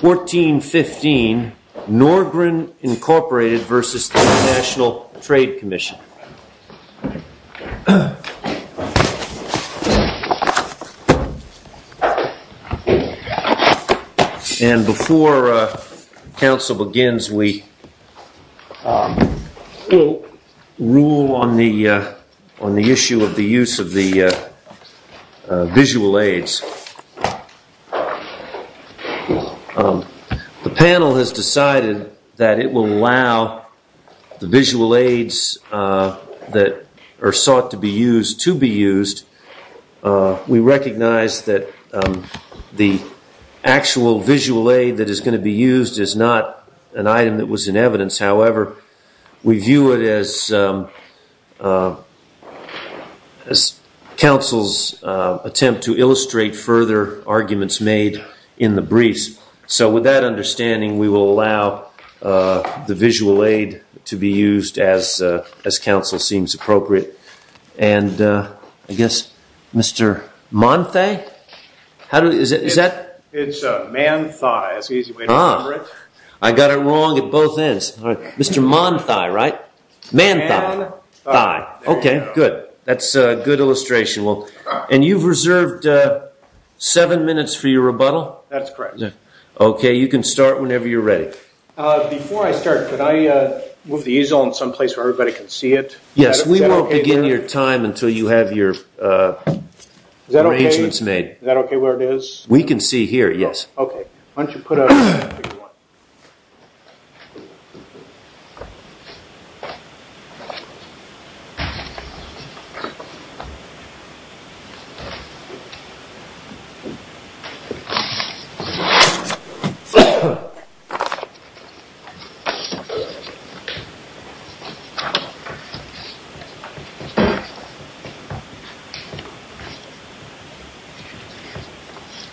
1415 Norgren Incorporated v. International Trade Commission and before council begins we will rule on the on the issue of the use of the visual aids. The panel has decided that it will allow the visual aids that are sought to be used to be used. We recognize that the actual visual aid that is going to be used is not an item that was in evidence however we view it as council's attempt to illustrate further arguments made in the briefs. So with that understanding we will allow the visual aid to be used as as council seems appropriate. And I guess Mr. Monthe? It's man thigh. I got it wrong at both ends. Mr. Monthe, right? Man thigh. That's a good illustration. And you've reserved seven minutes for your rebuttal? That's correct. Okay you can start whenever you're ready. Before I start, could I move the easel in some place where everybody can see it? Yes, we won't begin your time until you have your arrangements made. Is that okay where it is? We can see here, yes. Okay, why don't you put up...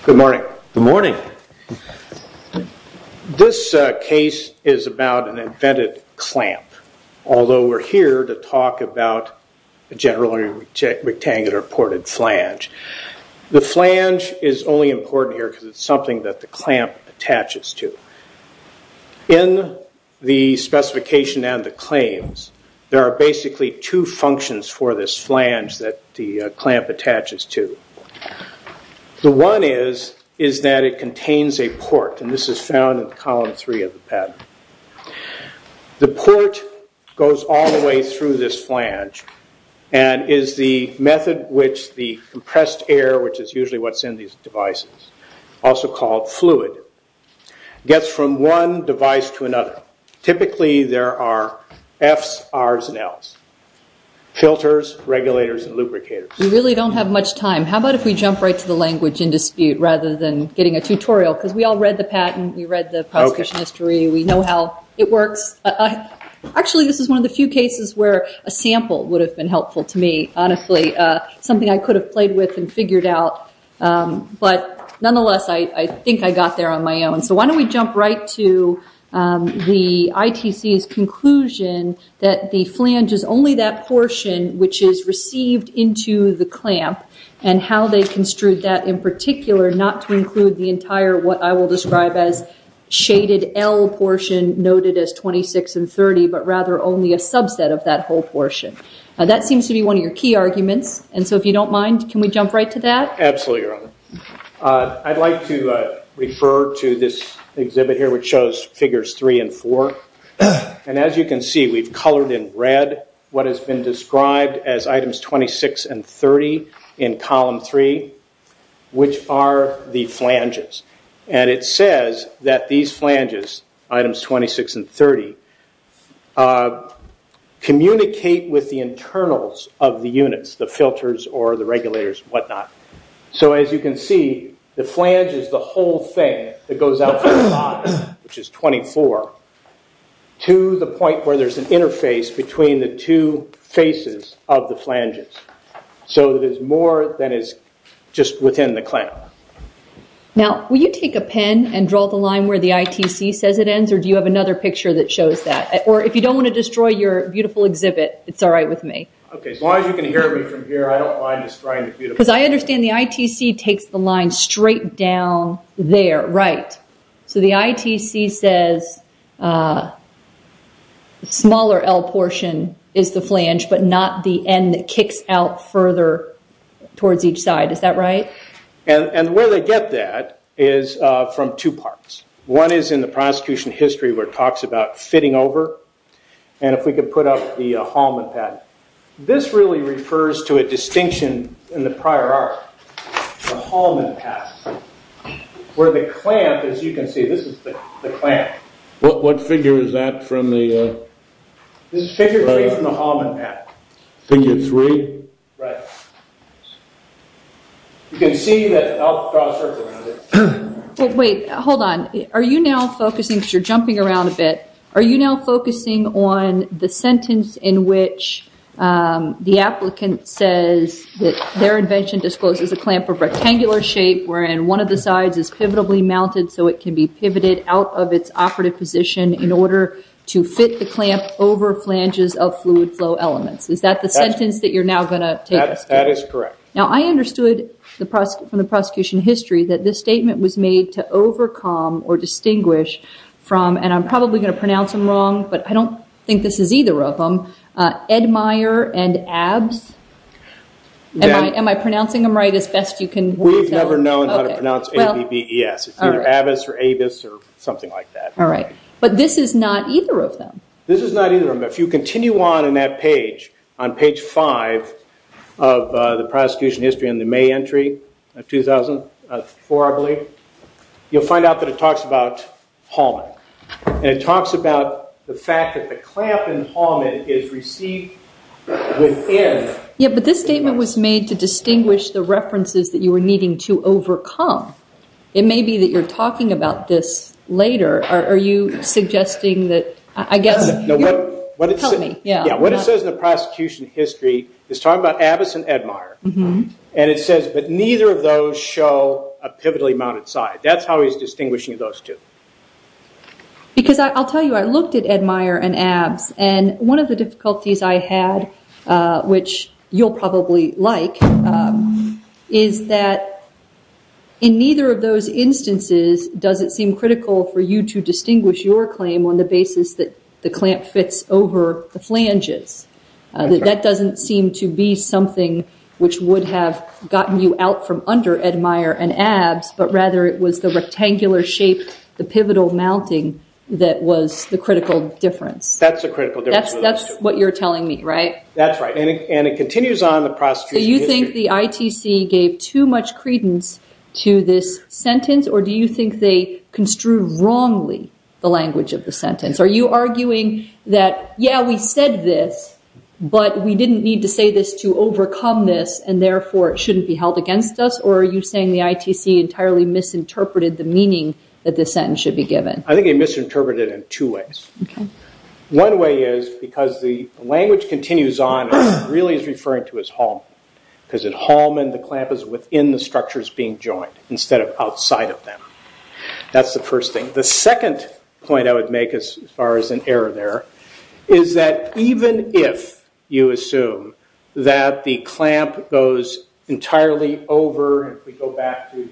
Good morning. Good morning. This case is about an invented clamp. Although we're here to talk about a generally rectangular ported flange. The flange is only important here because it's something that the clamp attaches to. In the specification and the claims there are basically two functions for this flange that the clamp attaches to. The one is that it contains a port and this is found in column three of the patent. The port goes all the way through this flange and is the method which the compressed air, which is usually what's in these devices, also called fluid, gets from one device to another. Typically there are F's, R's and L's. Filters, regulators and lubricators. We really don't have much time. How about if we jump right to the language in dispute rather than getting a tutorial because we all read the patent, we read the prosecution history, we know how it works. Actually this is one of the few cases where a sample would have been helpful to me, honestly. Something I could have played with and figured out but nonetheless I think I got there on my own. So why don't we jump right to the ITC's conclusion that the flange is only that portion which is received into the clamp and how they construed that in particular not to include the entire what I will describe as shaded L portion noted as 26 and 30 but rather only a subset of that whole portion. That seems to be one of your key arguments and so if you don't mind can we jump right to that? Absolutely your honor. I'd like to refer to this exhibit here which shows figures 3 and 4 and as you can see we've colored in red what has been described as items 26 and 30 in column 3 which are the flanges. And it says that these flanges, items 26 and 30, communicate with the internals of the units, the filters or the regulators and what not. So as you can see the flange is the whole thing that goes out from the bottom which is 24 to the point where there is an interface between the two faces of the flanges. So there is more than is just within the clamp. Now will you take a pen and draw the line where the ITC says it ends or do you have another picture that shows that? Or if you don't want to destroy your beautiful exhibit it's alright with me. As long as you can hear me from here I don't mind destroying the beautiful exhibit. Because I understand the ITC takes the line straight down there, right? So the ITC says the smaller L portion is the flange but not the end that kicks out further towards each side, is that right? And the way they get that is from two parts. One is in the prosecution history where it talks about fitting over and if we can put up the hallman pattern. This really refers to a distinction in the prior art, the hallman pattern. Where the clamp, as you can see, this is the clamp. What figure is that from the? This is figure 3 from the hallman pattern. Figure 3? Right. You can see that, I'll draw a circle around it. Wait, hold on. Are you now focusing, because you're jumping around a bit, are you now focusing on the sentence in which the applicant says that their invention discloses a clamp of rectangular shape wherein one of the sides is pivotably mounted so it can be pivoted out of its operative position in order to fit the clamp over flanges of fluid flow elements. Is that the sentence that you're now going to take us to? That is correct. Now I understood from the prosecution history that this statement was made to overcome or distinguish from, and I'm probably going to pronounce them wrong, but I don't think this is either of them, Edmeyer and Abbes. Am I pronouncing them right as best you can? We've never known how to pronounce A-B-B-E-S. It's either Abbes or Abbes or something like that. All right, but this is not either of them. This is not either of them. If you continue on in that page, on page 5 of the prosecution history in the May entry of 2004, I believe, you'll find out that it talks about hallman, and it talks about the fact that the clamp in hallman is received within. Yeah, but this statement was made to distinguish the references that you were needing to overcome. It may be that you're talking about this later. Are you suggesting that, I guess... What it says in the prosecution history is talking about Abbes and Edmeyer, and it says, but neither of those show a pivotally mounted side. That's how he's distinguishing those two. Because I'll tell you, I looked at Edmeyer and Abbes, and one of the difficulties I had, which you'll probably like, is that in neither of those instances does it seem critical for you to distinguish your claim on the basis that the clamp fits over the flanges. That doesn't seem to be something which would have gotten you out from under Edmeyer and Abbes, but rather it was the rectangular shape, the pivotal mounting that was the critical difference. That's the critical difference. That's what you're telling me, right? That's right, and it continues on in the prosecution history. So you think the ITC gave too much credence to this sentence, or do you think they construed wrongly the language of the sentence? Are you arguing that, yeah, we said this, but we didn't need to say this to overcome this, and therefore it shouldn't be held against us? Or are you saying the ITC entirely misinterpreted the meaning that this sentence should be given? I think they misinterpreted it in two ways. One way is because the language continues on and really is referring to his hallman, because at hallman the clamp is within the structures being joined instead of outside of them. That's the first thing. The second point I would make as far as an error there is that even if you assume that the clamp goes entirely over, if we go back to,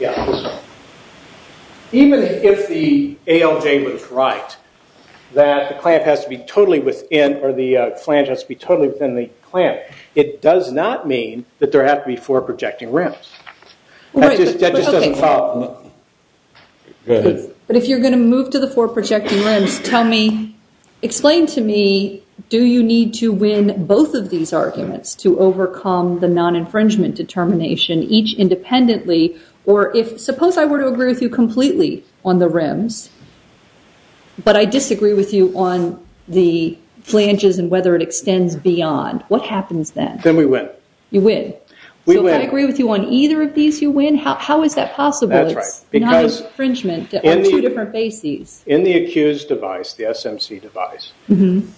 yeah, even if the ALJ was right, that the clamp has to be totally within, or the flange has to be totally within the clamp, it does not mean that there have to be four projecting rims. That just doesn't follow. Go ahead. But if you're going to move to the four projecting rims, tell me, explain to me, do you need to win both of these arguments to overcome the non-infringement determination each independently, or if suppose I were to agree with you completely on the rims, but I disagree with you on the flanges and whether it extends beyond. What happens then? Then we win. You win. We win. So if I agree with you on either of these, you win? How is that possible? That's right. It's non-infringement on two different bases. In the accused device, the SMC device,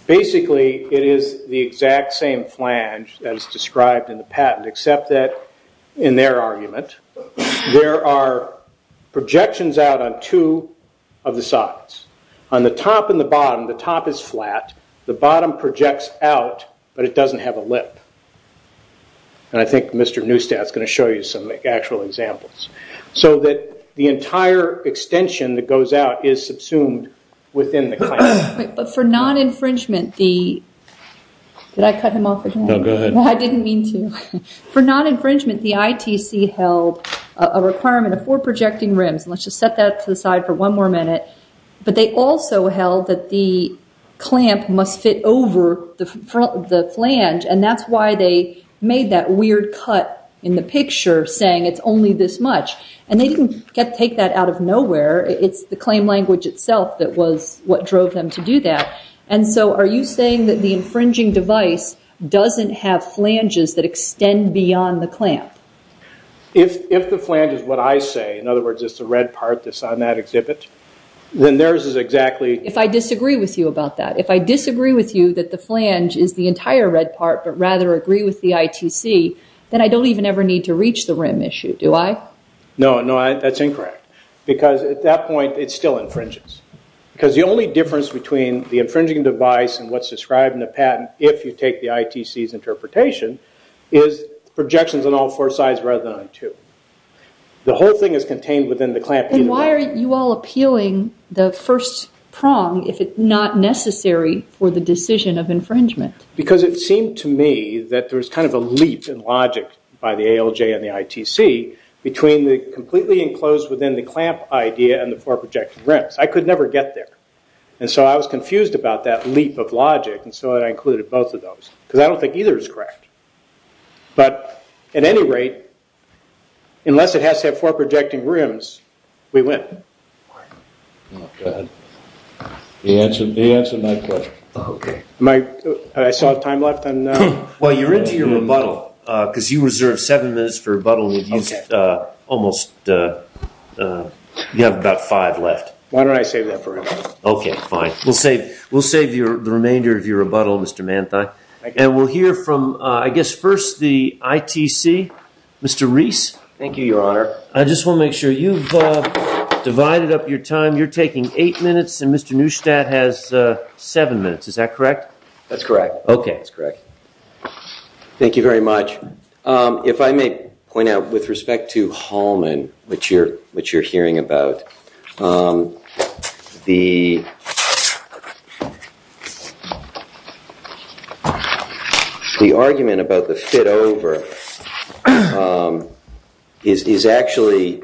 basically it is the exact same flange as described in the patent, except that in their argument there are projections out on two of the sides. On the top and the bottom, the top is flat, the bottom projects out, but it doesn't have a lip. I think Mr. Neustadt is going to show you some actual examples. So that the entire extension that goes out is subsumed within the clamp. But for non-infringement, the ITC held a requirement of four projecting rims. Let's just set that to the side for one more minute. But they also held that the clamp must fit over the flange, and that's why they made that weird cut in the picture saying it's only this much. And they didn't take that out of nowhere. It's the claim language itself that was what drove them to do that. And so are you saying that the infringing device doesn't have flanges that extend beyond the clamp? If the flange is what I say, in other words, it's the red part that's on that exhibit, then theirs is exactly... If I disagree with you about that. If I disagree with you that the flange is the entire red part, but rather agree with the ITC, then I don't even ever need to reach the rim issue, do I? No, no, that's incorrect. Because at that point, it still infringes. Because the only difference between the infringing device and what's described in the patent, if you take the ITC's interpretation, is projections on all four sides rather than on two. The whole thing is contained within the clamp. And why are you all appealing the first prong if it's not necessary for the decision of infringement? Because it seemed to me that there was kind of a leap in logic by the ALJ and the ITC between the completely enclosed within the clamp idea and the four projected rims. I could never get there. And so I was confused about that leap of logic, and so I included both of those. Because I don't think either is correct. But at any rate, unless it has to have four projecting rims, we win. Go ahead. He answered my question. I saw time left. Well, you're into your rebuttal, because you reserved seven minutes for rebuttal, and you have about five left. Why don't I save that for later? Okay, fine. We'll save the remainder of your rebuttal, Mr. Manthei. And we'll hear from, I guess, first the ITC. Mr. Reese? Thank you, Your Honor. I just want to make sure. You've divided up your time. You're taking eight minutes, and Mr. Neustadt has seven minutes. Is that correct? That's correct. Okay. That's correct. Thank you very much. If I may point out, with respect to Hallman, which you're hearing about, the argument about the fit over is actually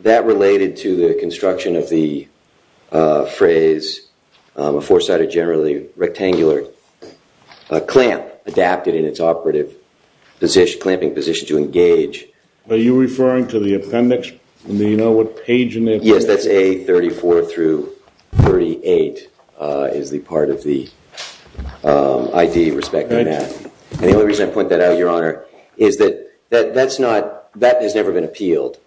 that related to the construction of the phrase a four-sided, generally rectangular clamp adapted in its operative position, clamping position to engage. Are you referring to the appendix? Do you know what page in there? Yes, that's A34 through 38 is the part of the ID, respect to that. And the only reason I point that out, Your Honor, is that that has never been appealed.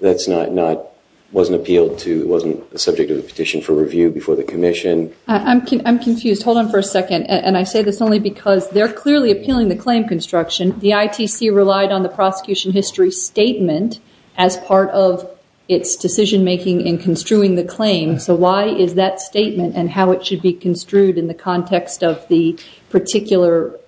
That wasn't appealed to. It wasn't a subject of the petition for review before the commission. I'm confused. Hold on for a second. And I say this only because they're clearly appealing the claim construction. The ITC relied on the prosecution history statement as part of its decision-making in construing the claim. So why is that statement and how it should be construed in the context of the particular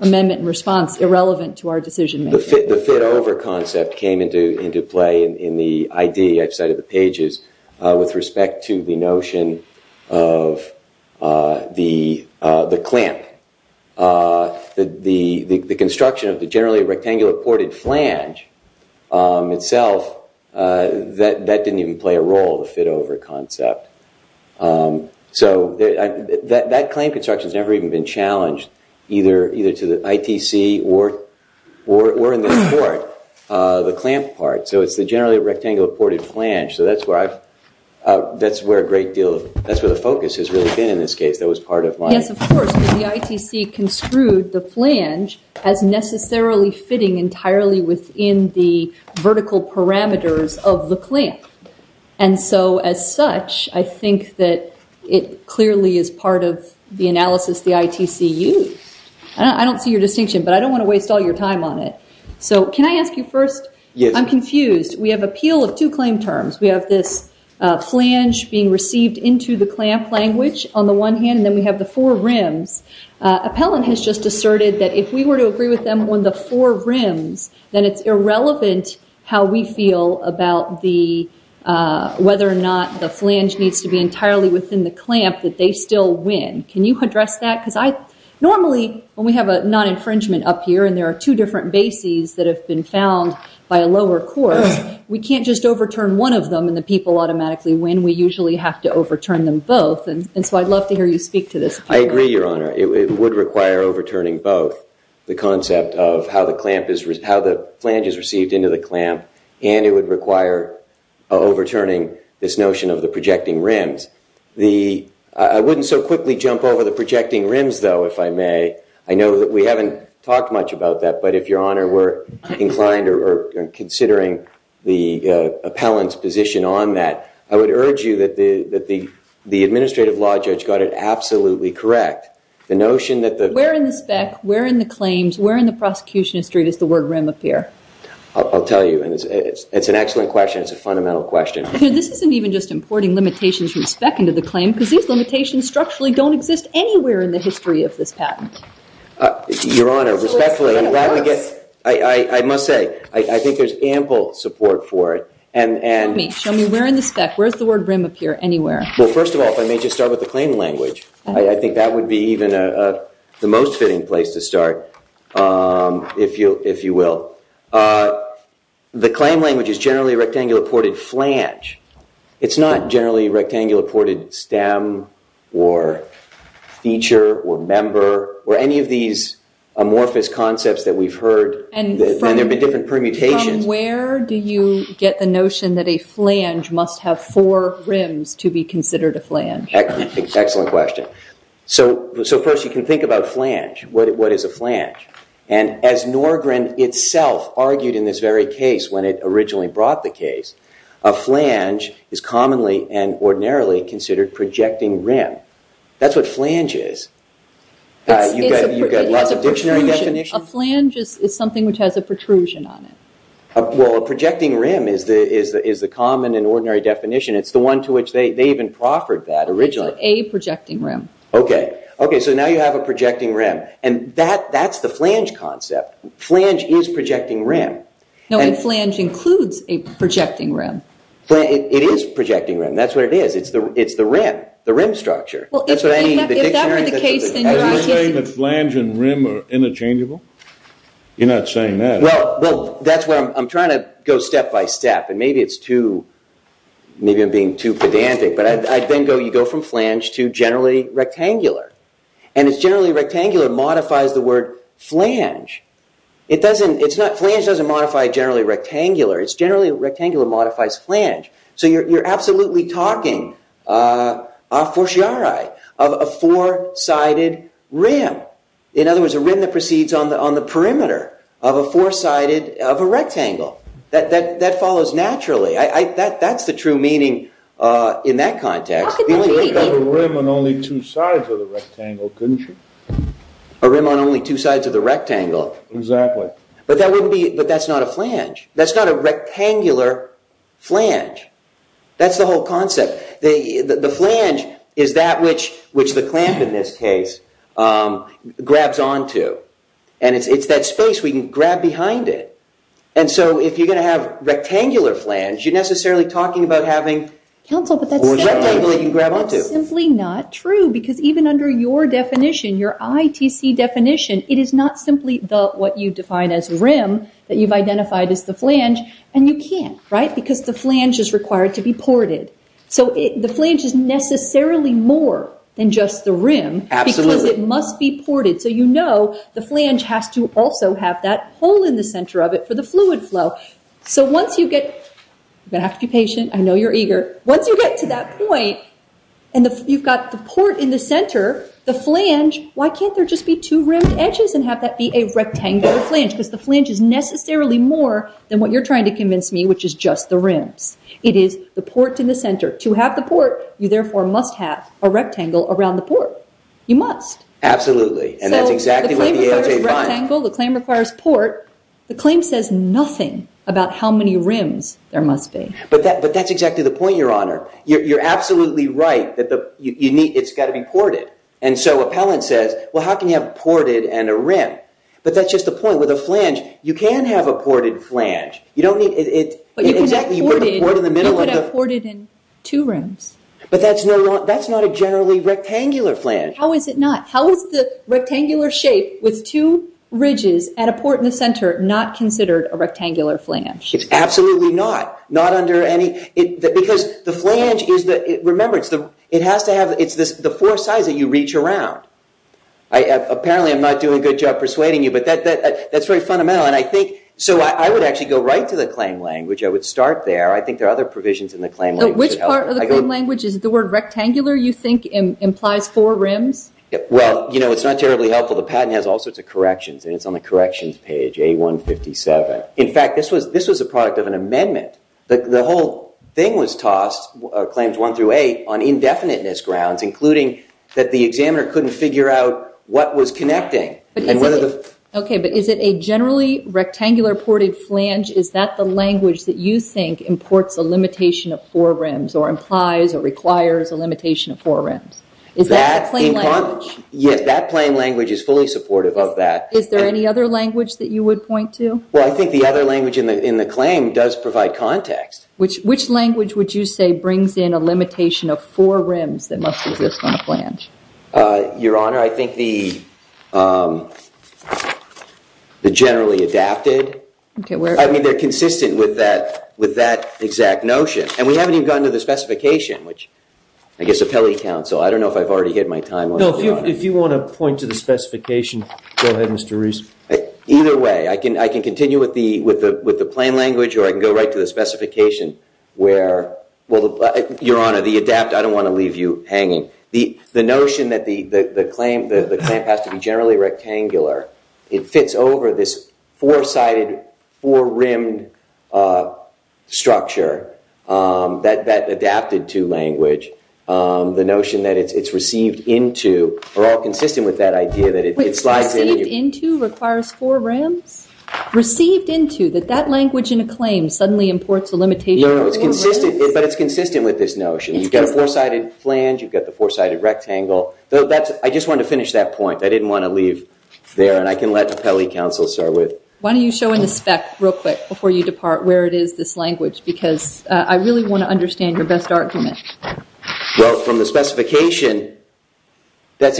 amendment and response irrelevant to our decision-making? The fit over concept came into play in the ID, I've cited the pages, with respect to the notion of the clamp. The construction of the generally rectangular ported flange itself, that didn't even play a role, the fit over concept. So that claim construction has never even been challenged either to the ITC or in this court, the clamp part. So it's the generally rectangular ported flange. So that's where a great deal of, that's where the focus has really been in this case. That was part of my- Yes, of course. The ITC construed the flange as necessarily fitting entirely within the vertical parameters of the clamp. And so as such, I think that it clearly is part of the analysis the ITC used. I don't see your distinction, but I don't want to waste all your time on it. So can I ask you first? Yes. I'm confused. We have appeal of two claim terms. We have this flange being received into the clamp language on the one hand, and then we have the four rims. Appellant has just asserted that if we were to agree with them on the four rims, then it's irrelevant how we feel about whether or not the flange needs to be entirely within the clamp that they still win. Can you address that? Because normally when we have a non-infringement up here, and there are two different bases that have been found by a lower court, we can't just overturn one of them and the people automatically win. We usually have to overturn them both. And so I'd love to hear you speak to this. I agree, Your Honor. It would require overturning both the concept of how the flange is received into the clamp, and it would require overturning this notion of the projecting rims. I wouldn't so quickly jump over the projecting rims, though, if I may. I know that we haven't talked much about that, but if, Your Honor, we're inclined or considering the appellant's position on that, I would urge you that the administrative law judge got it absolutely correct. Where in the spec, where in the claims, where in the prosecution history does the word rim appear? I'll tell you. It's an excellent question. It's a fundamental question. This isn't even just importing limitations from spec into the claim, because these limitations structurally don't exist anywhere in the history of this patent. Your Honor, respectfully, I must say, I think there's ample support for it. Show me. Where in the spec, where does the word rim appear anywhere? Well, first of all, if I may just start with the claim language, I think that would be even the most fitting place to start, if you will. The claim language is generally a rectangular ported flange. It's not generally rectangular ported stem or feature or member or any of these amorphous concepts that we've heard, and there have been different permutations. Where do you get the notion that a flange must have four rims to be considered a flange? Excellent question. So first you can think about flange. What is a flange? And as Norgren itself argued in this very case when it originally brought the case, a flange is commonly and ordinarily considered projecting rim. That's what flange is. You've got lots of dictionary definitions. A flange is something which has a protrusion on it. Well, a projecting rim is the common and ordinary definition. It's the one to which they even proffered that originally. It's a projecting rim. Okay. Okay, so now you have a projecting rim, and that's the flange concept. Flange is projecting rim. No, a flange includes a projecting rim. It is projecting rim. That's what it is. It's the rim, the rim structure. If that were the case, then you're not getting it. You're not saying that. Well, that's where I'm trying to go step by step, and maybe I'm being too pedantic, but you go from flange to generally rectangular. And it's generally rectangular modifies the word flange. Flange doesn't modify generally rectangular. It's generally rectangular modifies flange. So you're absolutely talking a forciare of a four-sided rim. In other words, a rim that proceeds on the perimeter of a four-sided of a rectangle. That follows naturally. That's the true meaning in that context. You could have a rim on only two sides of the rectangle, couldn't you? A rim on only two sides of the rectangle. Exactly. But that's not a flange. That's not a rectangular flange. That's the whole concept. The flange is that which the clamp in this case grabs onto. And it's that space we can grab behind it. And so if you're going to have rectangular flange, you're necessarily talking about having a rectangle that you can grab onto. That's simply not true, because even under your definition, your ITC definition, it is not simply what you define as rim that you've identified as the flange, and you can't, right? Because the flange is required to be ported. So the flange is necessarily more than just the rim because it must be ported. So you know the flange has to also have that hole in the center of it for the fluid flow. So once you get… You're going to have to be patient. I know you're eager. Once you get to that point, and you've got the port in the center, the flange, why can't there just be two rimmed edges and have that be a rectangular flange? Because the flange is necessarily more than what you're trying to convince me, which is just the rims. It is the port in the center. To have the port, you therefore must have a rectangle around the port. You must. Absolutely, and that's exactly what the AOJ finds. So the claim requires rectangle. The claim requires port. The claim says nothing about how many rims there must be. But that's exactly the point, Your Honor. You're absolutely right that it's got to be ported. And so appellant says, well, how can you have ported and a rim? But that's just the point. With a flange, you can have a ported flange. You don't need… You could have ported in two rims. But that's not a generally rectangular flange. How is it not? How is the rectangular shape with two ridges at a port in the center not considered a rectangular flange? It's absolutely not, not under any… Because the flange is the… Remember, it has to have… It's the four sides that you reach around. Apparently, I'm not doing a good job persuading you, but that's very fundamental. No, and I think… So I would actually go right to the claim language. I would start there. I think there are other provisions in the claim language that help. Which part of the claim language? Is it the word rectangular you think implies four rims? Well, you know, it's not terribly helpful. The patent has all sorts of corrections, and it's on the corrections page, A-157. In fact, this was a product of an amendment. The whole thing was tossed, claims 1 through 8, on indefiniteness grounds, including that the examiner couldn't figure out what was connecting. Okay, but is it a generally rectangular ported flange? Is that the language that you think imports a limitation of four rims or implies or requires a limitation of four rims? Is that the claim language? Yes, that claim language is fully supportive of that. Is there any other language that you would point to? Well, I think the other language in the claim does provide context. Which language would you say brings in a limitation of four rims that must exist on a flange? Your Honor, I think the generally adapted. I mean, they're consistent with that exact notion. And we haven't even gotten to the specification, which I guess appellate counsel. I don't know if I've already hit my time limit, Your Honor. No, if you want to point to the specification, go ahead, Mr. Rees. Either way, I can continue with the claim language, or I can go right to the specification. Well, Your Honor, the adapt, I don't want to leave you hanging. The notion that the claim has to be generally rectangular, it fits over this four-sided, four-rimmed structure that adapted to language. The notion that it's received into, we're all consistent with that idea that it slides in. Wait, received into requires four rims? Received into, that that language in a claim suddenly imports a limitation of four rims? No, but it's consistent with this notion. You've got a four-sided flange. You've got the four-sided rectangle. I just wanted to finish that point. I didn't want to leave there, and I can let appellate counsel start with it. Why don't you show in the spec real quick before you depart where it is, this language, because I really want to understand your best argument. Well, from the specification, that's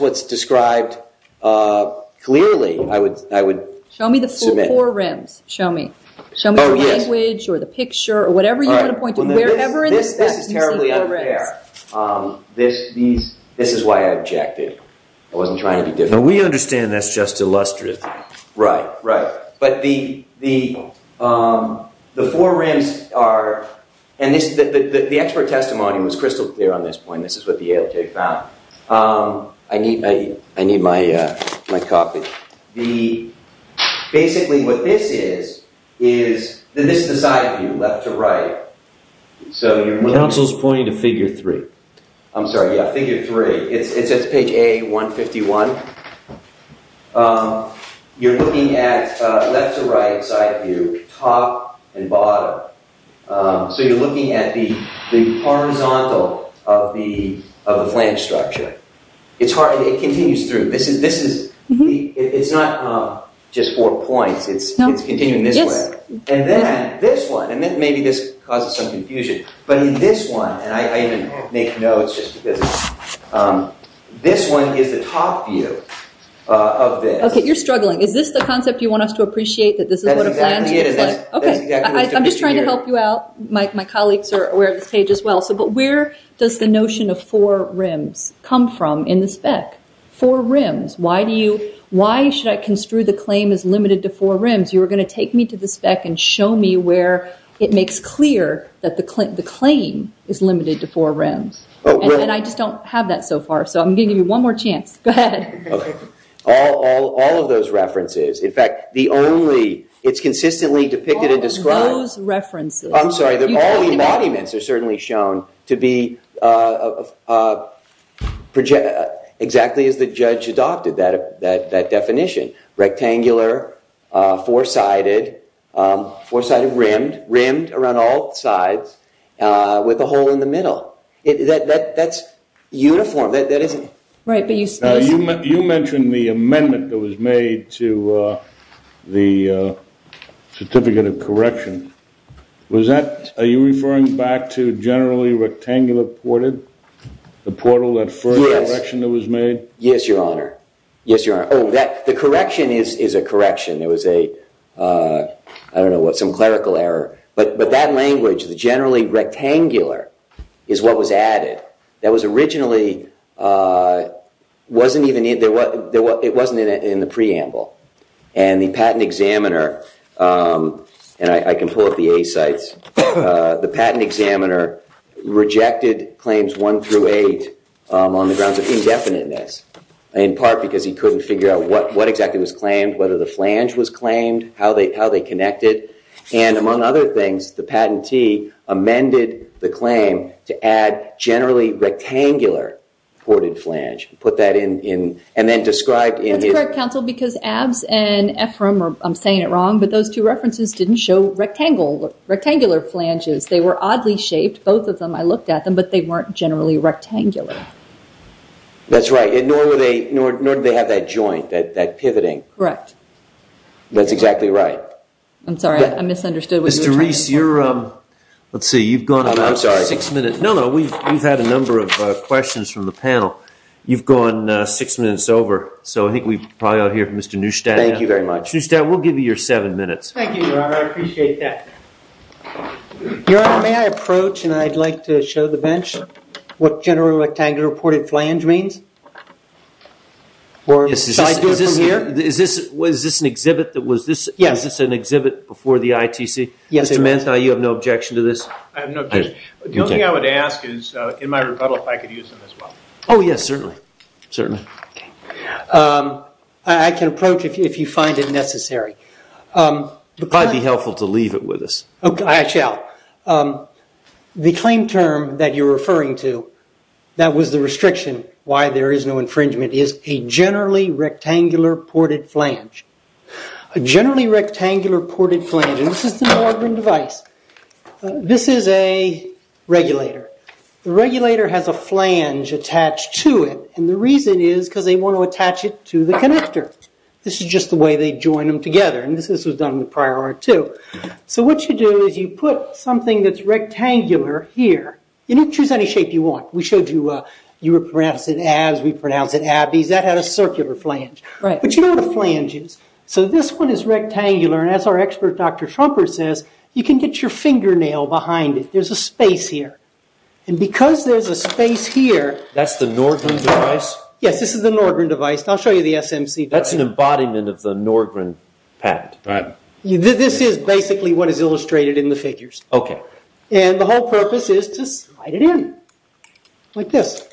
what's described clearly. I would submit. Show me the four rims. Show me. Show me the language or the picture or whatever you want to point to. This is terribly unfair. This is why I objected. I wasn't trying to be difficult. We understand that's just illustrative. Right, right. But the four rims are, and the expert testimony was crystal clear on this point. This is what the ALJ found. I need my copy. Basically what this is, this is the side view, left to right. Counsel's pointing to figure three. I'm sorry. Yeah, figure three. It's page A151. You're looking at left to right side view, top and bottom. So you're looking at the horizontal of the flange structure. It continues through. It's not just four points. It's continuing this way. And then this one, and maybe this causes some confusion, but in this one, and I even make notes just because. This one is the top view of this. Okay, you're struggling. Is this the concept you want us to appreciate, that this is what a flange looks like? That's exactly it. I'm just trying to help you out. My colleagues are aware of this page as well. But where does the notion of four rims come from in the spec? Four rims. Why should I construe the claim as limited to four rims? You were going to take me to the spec and show me where it makes clear that the claim is limited to four rims. And I just don't have that so far, so I'm going to give you one more chance. Go ahead. All of those references. In fact, it's consistently depicted and described. All those references. I'm sorry. All the embodiments are certainly shown to be exactly as the judge adopted that definition. Rectangular, four-sided, rimmed around all sides with a hole in the middle. That's uniform. You mentioned the amendment that was made to the certificate of correction. Are you referring back to generally rectangular ported? The portal, that first correction that was made? Yes, Your Honor. Yes, Your Honor. Oh, the correction is a correction. It was a, I don't know what, some clerical error. But that language, the generally rectangular, is what was added. That was originally, it wasn't in the preamble. And the patent examiner, and I can pull up the A sites, the patent examiner rejected claims one through eight on the grounds of indefiniteness. In part because he couldn't figure out what exactly was claimed, whether the flange was claimed, how they connected. And among other things, the patentee amended the claim to add generally rectangular ported flange. Put that in, and then described in his- I'm saying it wrong, but those two references didn't show rectangular flanges. They were oddly shaped. Both of them, I looked at them, but they weren't generally rectangular. That's right. Nor do they have that joint, that pivoting. Correct. That's exactly right. I'm sorry, I misunderstood. Mr. Reese, you're, let's see, you've gone about six minutes. No, no, we've had a number of questions from the panel. You've gone six minutes over. So I think we probably ought to hear from Mr. Neustadt. Thank you very much. Neustadt, we'll give you your seven minutes. Thank you, Your Honor. I appreciate that. Your Honor, may I approach, and I'd like to show the bench what generally rectangular ported flange means? Is this an exhibit that was this- Yes. Is this an exhibit before the ITC? Yes, it was. Mr. Manthei, you have no objection to this? I have no objection. The only thing I would ask is, in my rebuttal, if I could use them as well. Oh, yes, certainly. Certainly. I can approach if you find it necessary. It would probably be helpful to leave it with us. Okay, I shall. The claim term that you're referring to, that was the restriction, why there is no infringement, is a generally rectangular ported flange. A generally rectangular ported flange, and this is an ordering device. This is a regulator. The regulator has a flange attached to it. The reason is because they want to attach it to the connector. This is just the way they join them together. This was done with prior art, too. What you do is you put something that's rectangular here. You can choose any shape you want. We showed you, you would pronounce it abs, we'd pronounce it abbies. That had a circular flange. Right. Do you know what a flange is? This one is rectangular. As our expert, Dr. Schumper, says, you can get your fingernail behind it. There's a space here. Because there's a space here. That's the Norgren device? Yes, this is the Norgren device. I'll show you the SMC device. That's an embodiment of the Norgren patent. Right. This is basically what is illustrated in the figures. Okay. The whole purpose is to slide it in, like this.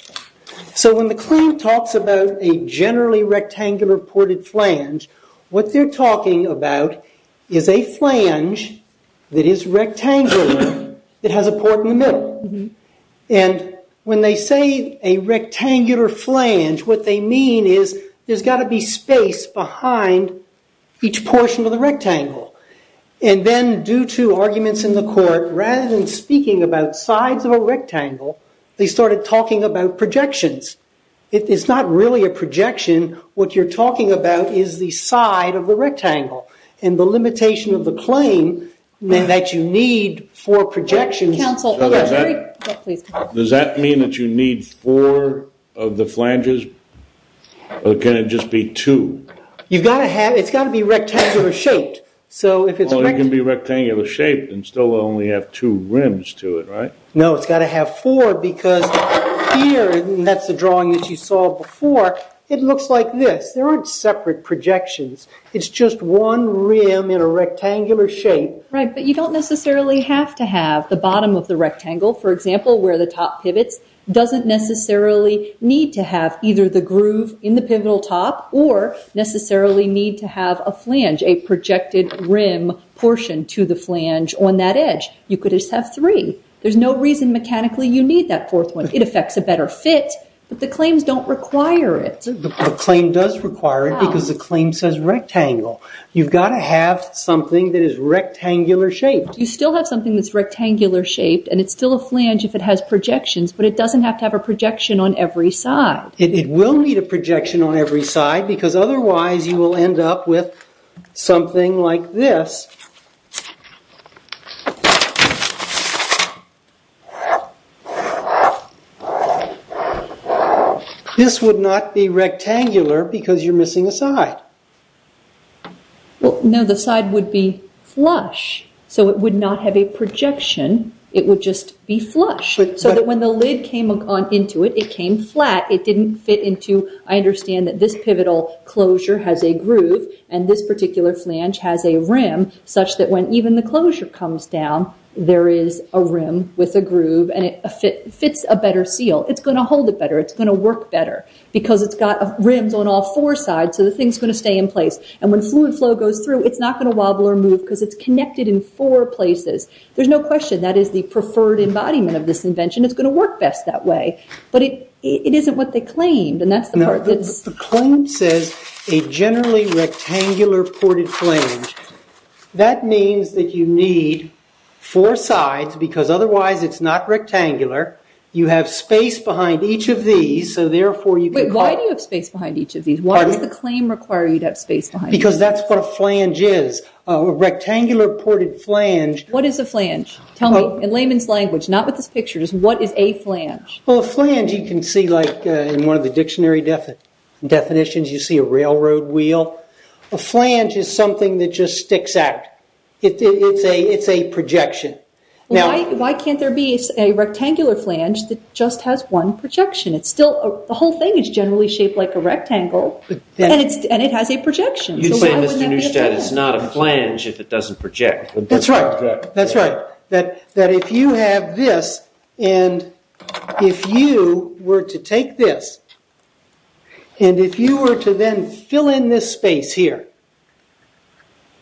When the claim talks about a generally rectangular ported flange, what they're talking about is a flange that is rectangular, that has a port in the middle. When they say a rectangular flange, what they mean is there's got to be space behind each portion of the rectangle. Then, due to arguments in the court, rather than speaking about sides of a rectangle, they started talking about projections. It's not really a projection. What you're talking about is the side of the rectangle. The limitation of the claim, that you need four projections. Counsel, hold on a second. Does that mean that you need four of the flanges? Or can it just be two? It's got to be rectangular shaped. It can be rectangular shaped and still only have two rims to it, right? No, it's got to have four because here, and that's the drawing that you saw before, it looks like this. There aren't separate projections. It's just one rim in a rectangular shape. Right, but you don't necessarily have to have the bottom of the rectangle, for example, where the top pivots, doesn't necessarily need to have either the groove in the pivotal top or necessarily need to have a flange, a projected rim portion to the flange on that edge. You could just have three. There's no reason mechanically you need that fourth one. It affects a better fit, but the claims don't require it. The claim does require it because the claim says rectangle. You've got to have something that is rectangular shaped. You still have something that's rectangular shaped, and it's still a flange if it has projections, but it doesn't have to have a projection on every side. It will need a projection on every side because otherwise you will end up with something like this. This would not be rectangular because you're missing a side. No, the side would be flush, so it would not have a projection. It would just be flush, so that when the lid came on into it, it came flat. It didn't fit into— I understand that this pivotal closure has a groove, and this particular flange has a rim, such that when even the closure comes down, there is a rim with a groove, and it fits a better seal. It's going to hold it better. It's going to work better because it's got rims on all four sides, so the thing's going to stay in place. When fluid flow goes through, it's not going to wobble or move because it's connected in four places. There's no question that is the preferred embodiment of this invention. It's going to work best that way, but it isn't what they claimed, and that's the part that's— The claim says a generally rectangular ported flange. That means that you need four sides because otherwise it's not rectangular. You have space behind each of these, so therefore you can— Wait. Why do you have space behind each of these? Why does the claim require you to have space behind these? Because that's what a flange is, a rectangular ported flange. What is a flange? Tell me. In layman's language, not with this picture, just what is a flange? A flange you can see in one of the dictionary definitions. You see a railroad wheel. A flange is something that just sticks out. It's a projection. Why can't there be a rectangular flange that just has one projection? The whole thing is generally shaped like a rectangle, and it has a projection. You say, Mr. Neustadt, it's not a flange if it doesn't project. That's right. That's right. That if you have this, and if you were to take this, and if you were to then fill in this space here,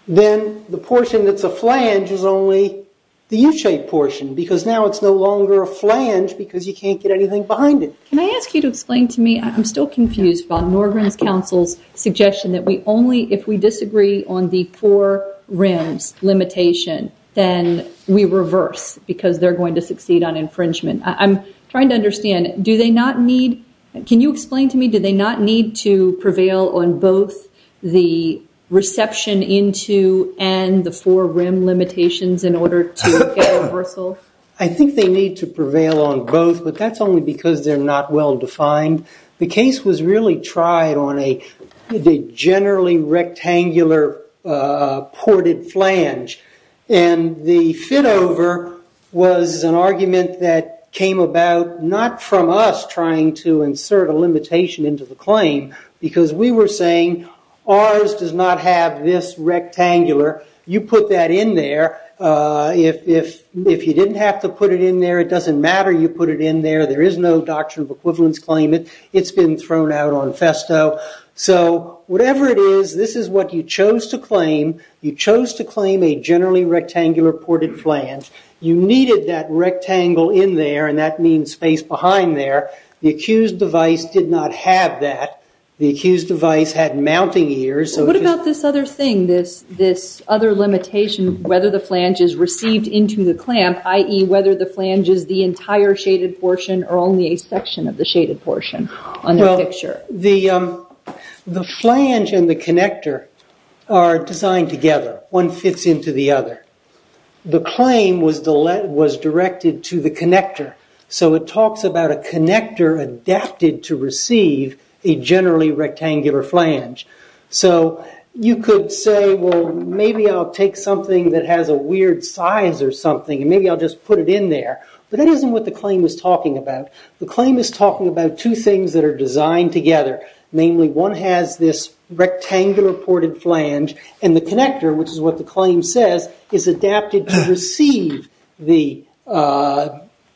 then the portion that's a flange is only the U-shaped portion, because now it's no longer a flange because you can't get anything behind it. Can I ask you to explain to me, I'm still confused by Norgren's counsel's suggestion that if we disagree on the four rims limitation, then we reverse because they're going to succeed on infringement. I'm trying to understand, can you explain to me, do they not need to prevail on both the reception into and the four rim limitations in order to get a reversal? I think they need to prevail on both, but that's only because they're not well defined. The case was really tried on a generally rectangular ported flange, and the fit over was an argument that came about not from us trying to insert a limitation into the claim, because we were saying, ours does not have this rectangular. You put that in there. If you didn't have to put it in there, it doesn't matter you put it in there. There is no doctrine of equivalence claimant. It's been thrown out on Festo. Whatever it is, this is what you chose to claim. You chose to claim a generally rectangular ported flange. You needed that rectangle in there, and that means space behind there. The accused device did not have that. The accused device had mounting ears. What about this other thing, this other limitation, whether the flange is received into the clamp, i.e., whether the flange is the entire shaded portion or only a section of the shaded portion on the picture? The flange and the connector are designed together. One fits into the other. The claim was directed to the connector. It talks about a connector adapted to receive a generally rectangular flange. You could say, maybe I'll take something that has a weird size or something, and maybe I'll just put it in there. That isn't what the claim is talking about. The claim is talking about two things that are designed together. Namely, one has this rectangular ported flange, and the connector, which is what the claim says, is adapted to receive the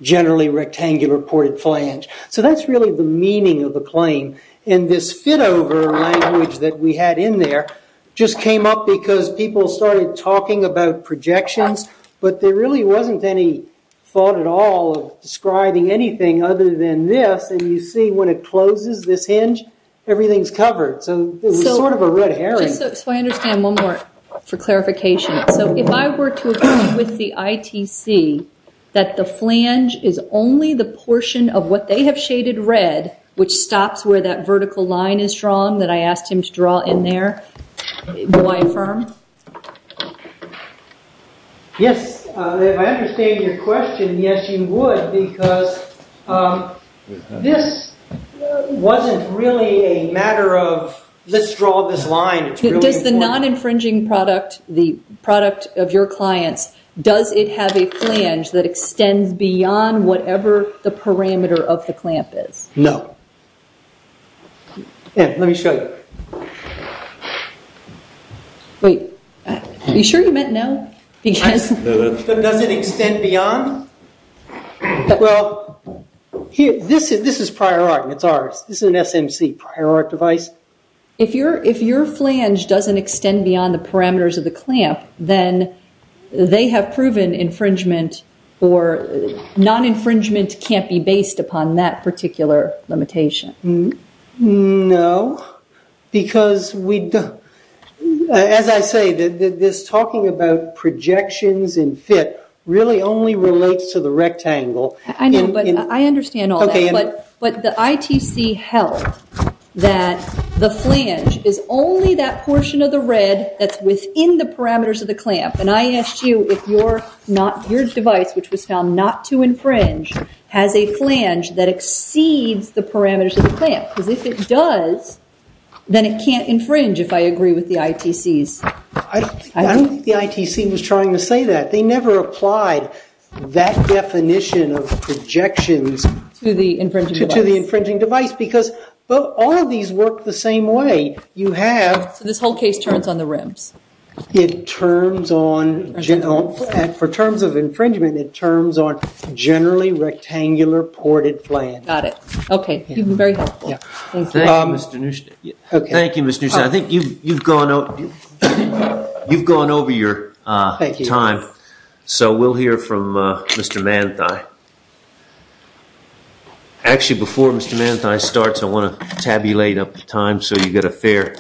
generally rectangular ported flange. That's really the meaning of the claim. This fit-over language that we had in there just came up because people started talking about projections, but there really wasn't any thought at all of describing anything other than this. You see, when it closes this hinge, everything's covered. It was sort of a red herring. I understand one more for clarification. If I were to agree with the ITC that the flange is only the portion of what they have shaded red, which stops where that vertical line is drawn that I asked him to draw in there, will I affirm? Yes. If I understand your question, yes, you would, because this wasn't really a matter of, let's draw this line. Does the non-infringing product, the product of your clients, does it have a flange that extends beyond whatever the parameter of the clamp is? No. Let me show you. Wait. Are you sure you meant no? Does it extend beyond? Well, this is prior art, and it's ours. This is an SMC prior art device. If your flange doesn't extend beyond the parameters of the clamp, then they have proven infringement, or non-infringement can't be based upon that particular limitation. No, because as I say, this talking about projections and fit really only relates to the rectangle. I know, but I understand all that. But the ITC held that the flange is only that portion of the red that's within the parameters of the clamp, and I asked you if your device, which was found not to infringe, has a flange that exceeds the parameters of the clamp, because if it does, then it can't infringe, if I agree with the ITCs. I don't think the ITC was trying to say that. They never applied that definition of projections to the infringing device, because all of these work the same way. You have... So this whole case turns on the rims. It turns on... For terms of infringement, it turns on generally rectangular ported flanges. Got it. Okay. Very helpful. Thank you, Mr. Neustadt. Thank you, Mr. Neustadt. I think you've gone over your time, so we'll hear from Mr. Manthei. Actually, before Mr. Manthei starts, I want to tabulate up the time so you get a fair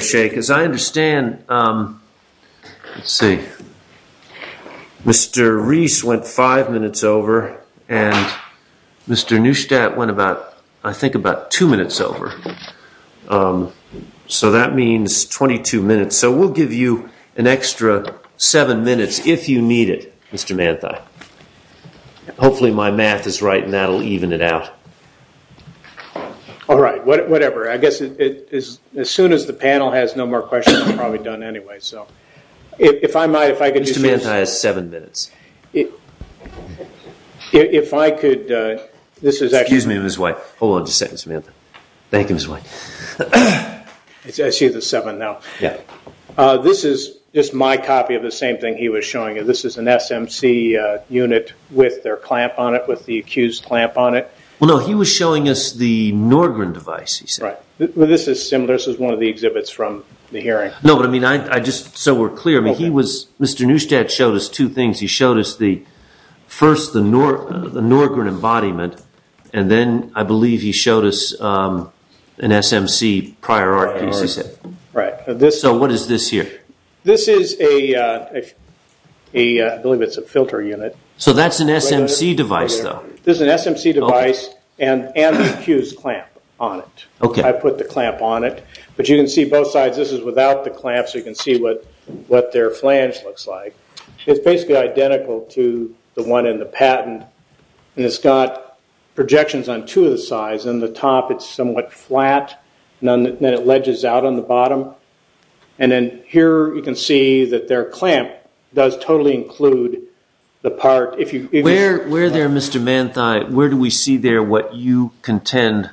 shake, because I understand... Let's see. Mr. Reese went five minutes over, and Mr. Neustadt went about, I think, about two minutes over. So that means 22 minutes. So we'll give you an extra seven minutes if you need it, Mr. Manthei. Hopefully my math is right and that will even it out. All right. Whatever. I guess as soon as the panel has no more questions, I'm probably done anyway. Mr. Manthei has seven minutes. If I could... Excuse me, Ms. White. Hold on just a second, Ms. Manthei. Thank you, Ms. White. I see the seven now. Yeah. This is just my copy of the same thing he was showing you. This is an SMC unit with their clamp on it, with the accused's clamp on it. Well, no, he was showing us the Norgren device, he said. Right. Well, this is similar. This is one of the exhibits from the hearing. No, but, I mean, so we're clear. Mr. Neustadt showed us two things. He showed us first the Norgren embodiment, and then I believe he showed us an SMC prior art piece, he said. Right. So what is this here? This is a, I believe it's a filter unit. So that's an SMC device, though. This is an SMC device and the accused's clamp on it. Okay. I put the clamp on it, but you can see both sides. This is without the clamp so you can see what their flange looks like. It's basically identical to the one in the patent, and it's got projections on two of the sides. On the top it's somewhat flat, and then it ledges out on the bottom. And then here you can see that their clamp does totally include the part. Where there, Mr. Manthei, where do we see there what you contend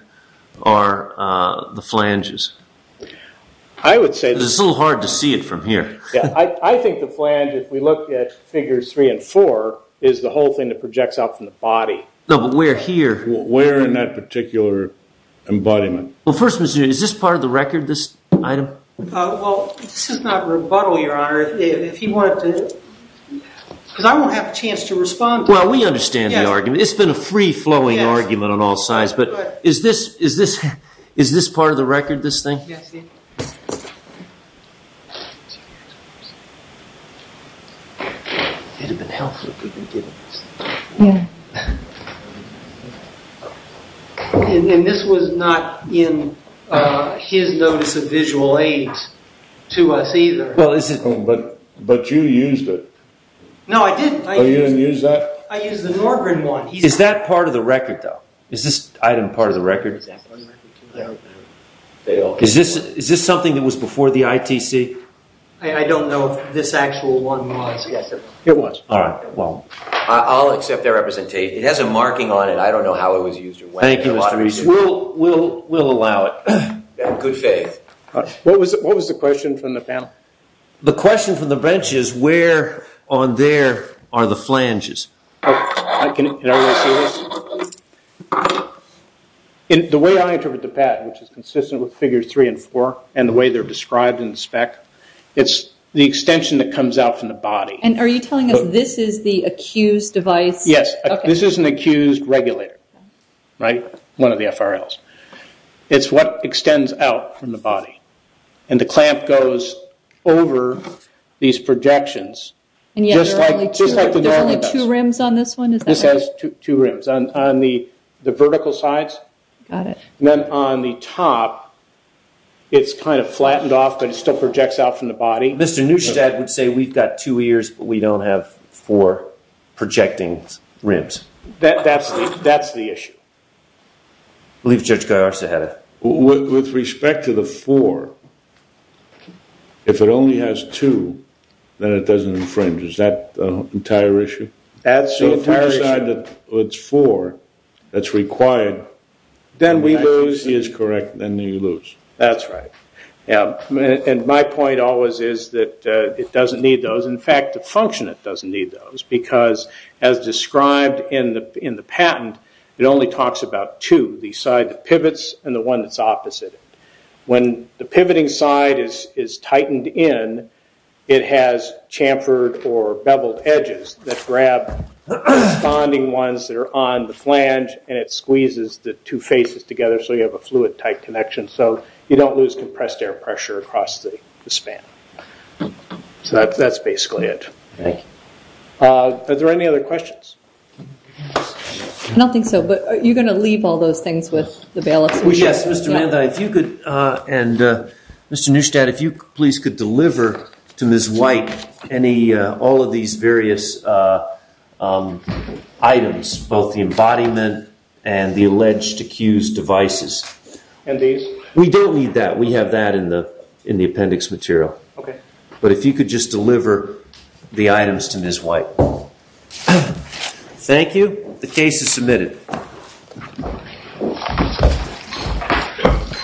are the flanges? I would say that. It's a little hard to see it from here. I think the flange, if we look at figures three and four, is the whole thing that projects out from the body. No, but we're here. We're in that particular embodiment. Well, first, is this part of the record, this item? Well, this is not a rebuttal, Your Honor. If you wanted to, because I won't have a chance to respond to it. Well, we understand the argument. It's been a free-flowing argument on all sides. But is this part of the record, this thing? Yes, it is. It would have been helpful if we could get it. Yeah. And this was not in his notice of visual aids to us either. But you used it. No, I didn't. Oh, you didn't use that? I used the Norgren one. Is that part of the record, though? Is this item part of the record? Is this something that was before the ITC? I don't know if this actual one was. It was. All right, well. I'll accept that representation. It has a marking on it. I don't know how it was used or when. We'll allow it. In good faith. What was the question from the panel? The question from the bench is, where on there are the flanges? Can everyone see this? The way I interpret the pad, which is consistent with figures 3 and 4, and the way they're described in the spec, it's the extension that comes out from the body. And are you telling us this is the accused device? Yes. This is an accused regulator, right, one of the FRLs. It's what extends out from the body. And the clamp goes over these projections. And yet there are only two rims on this one? This has two rims. On the vertical sides. Got it. And then on the top, it's kind of flattened off, but it still projects out from the body. Mr. Neustadt would say we've got two ears, but we don't have four projecting rims. That's the issue. I believe Judge Garza had a question. With respect to the four, if it only has two, then it doesn't infringe. Is that the entire issue? That's the entire issue. So if we decide that it's four, that's required. Then we lose. He is correct. Then you lose. That's right. And my point always is that it doesn't need those. In fact, the functionant doesn't need those, because as described in the patent, it only talks about two, the side that pivots and the one that's opposite. When the pivoting side is tightened in, it has chamfered or beveled edges that grab the responding ones that are on the flange, and it squeezes the two faces together so you have a fluid-type connection. So you don't lose compressed air pressure across the span. So that's basically it. Thank you. Are there any other questions? I don't think so, but are you going to leave all those things with the bailiffs? Yes, Mr. Manda, if you could, and Mr. Neustadt, if you please could deliver to Ms. White all of these various items, both the embodiment and the alleged accused devices. And these? We don't need that. We have that in the appendix material. Okay. But if you could just deliver the items to Ms. White. Thank you. The case is submitted. Thank you.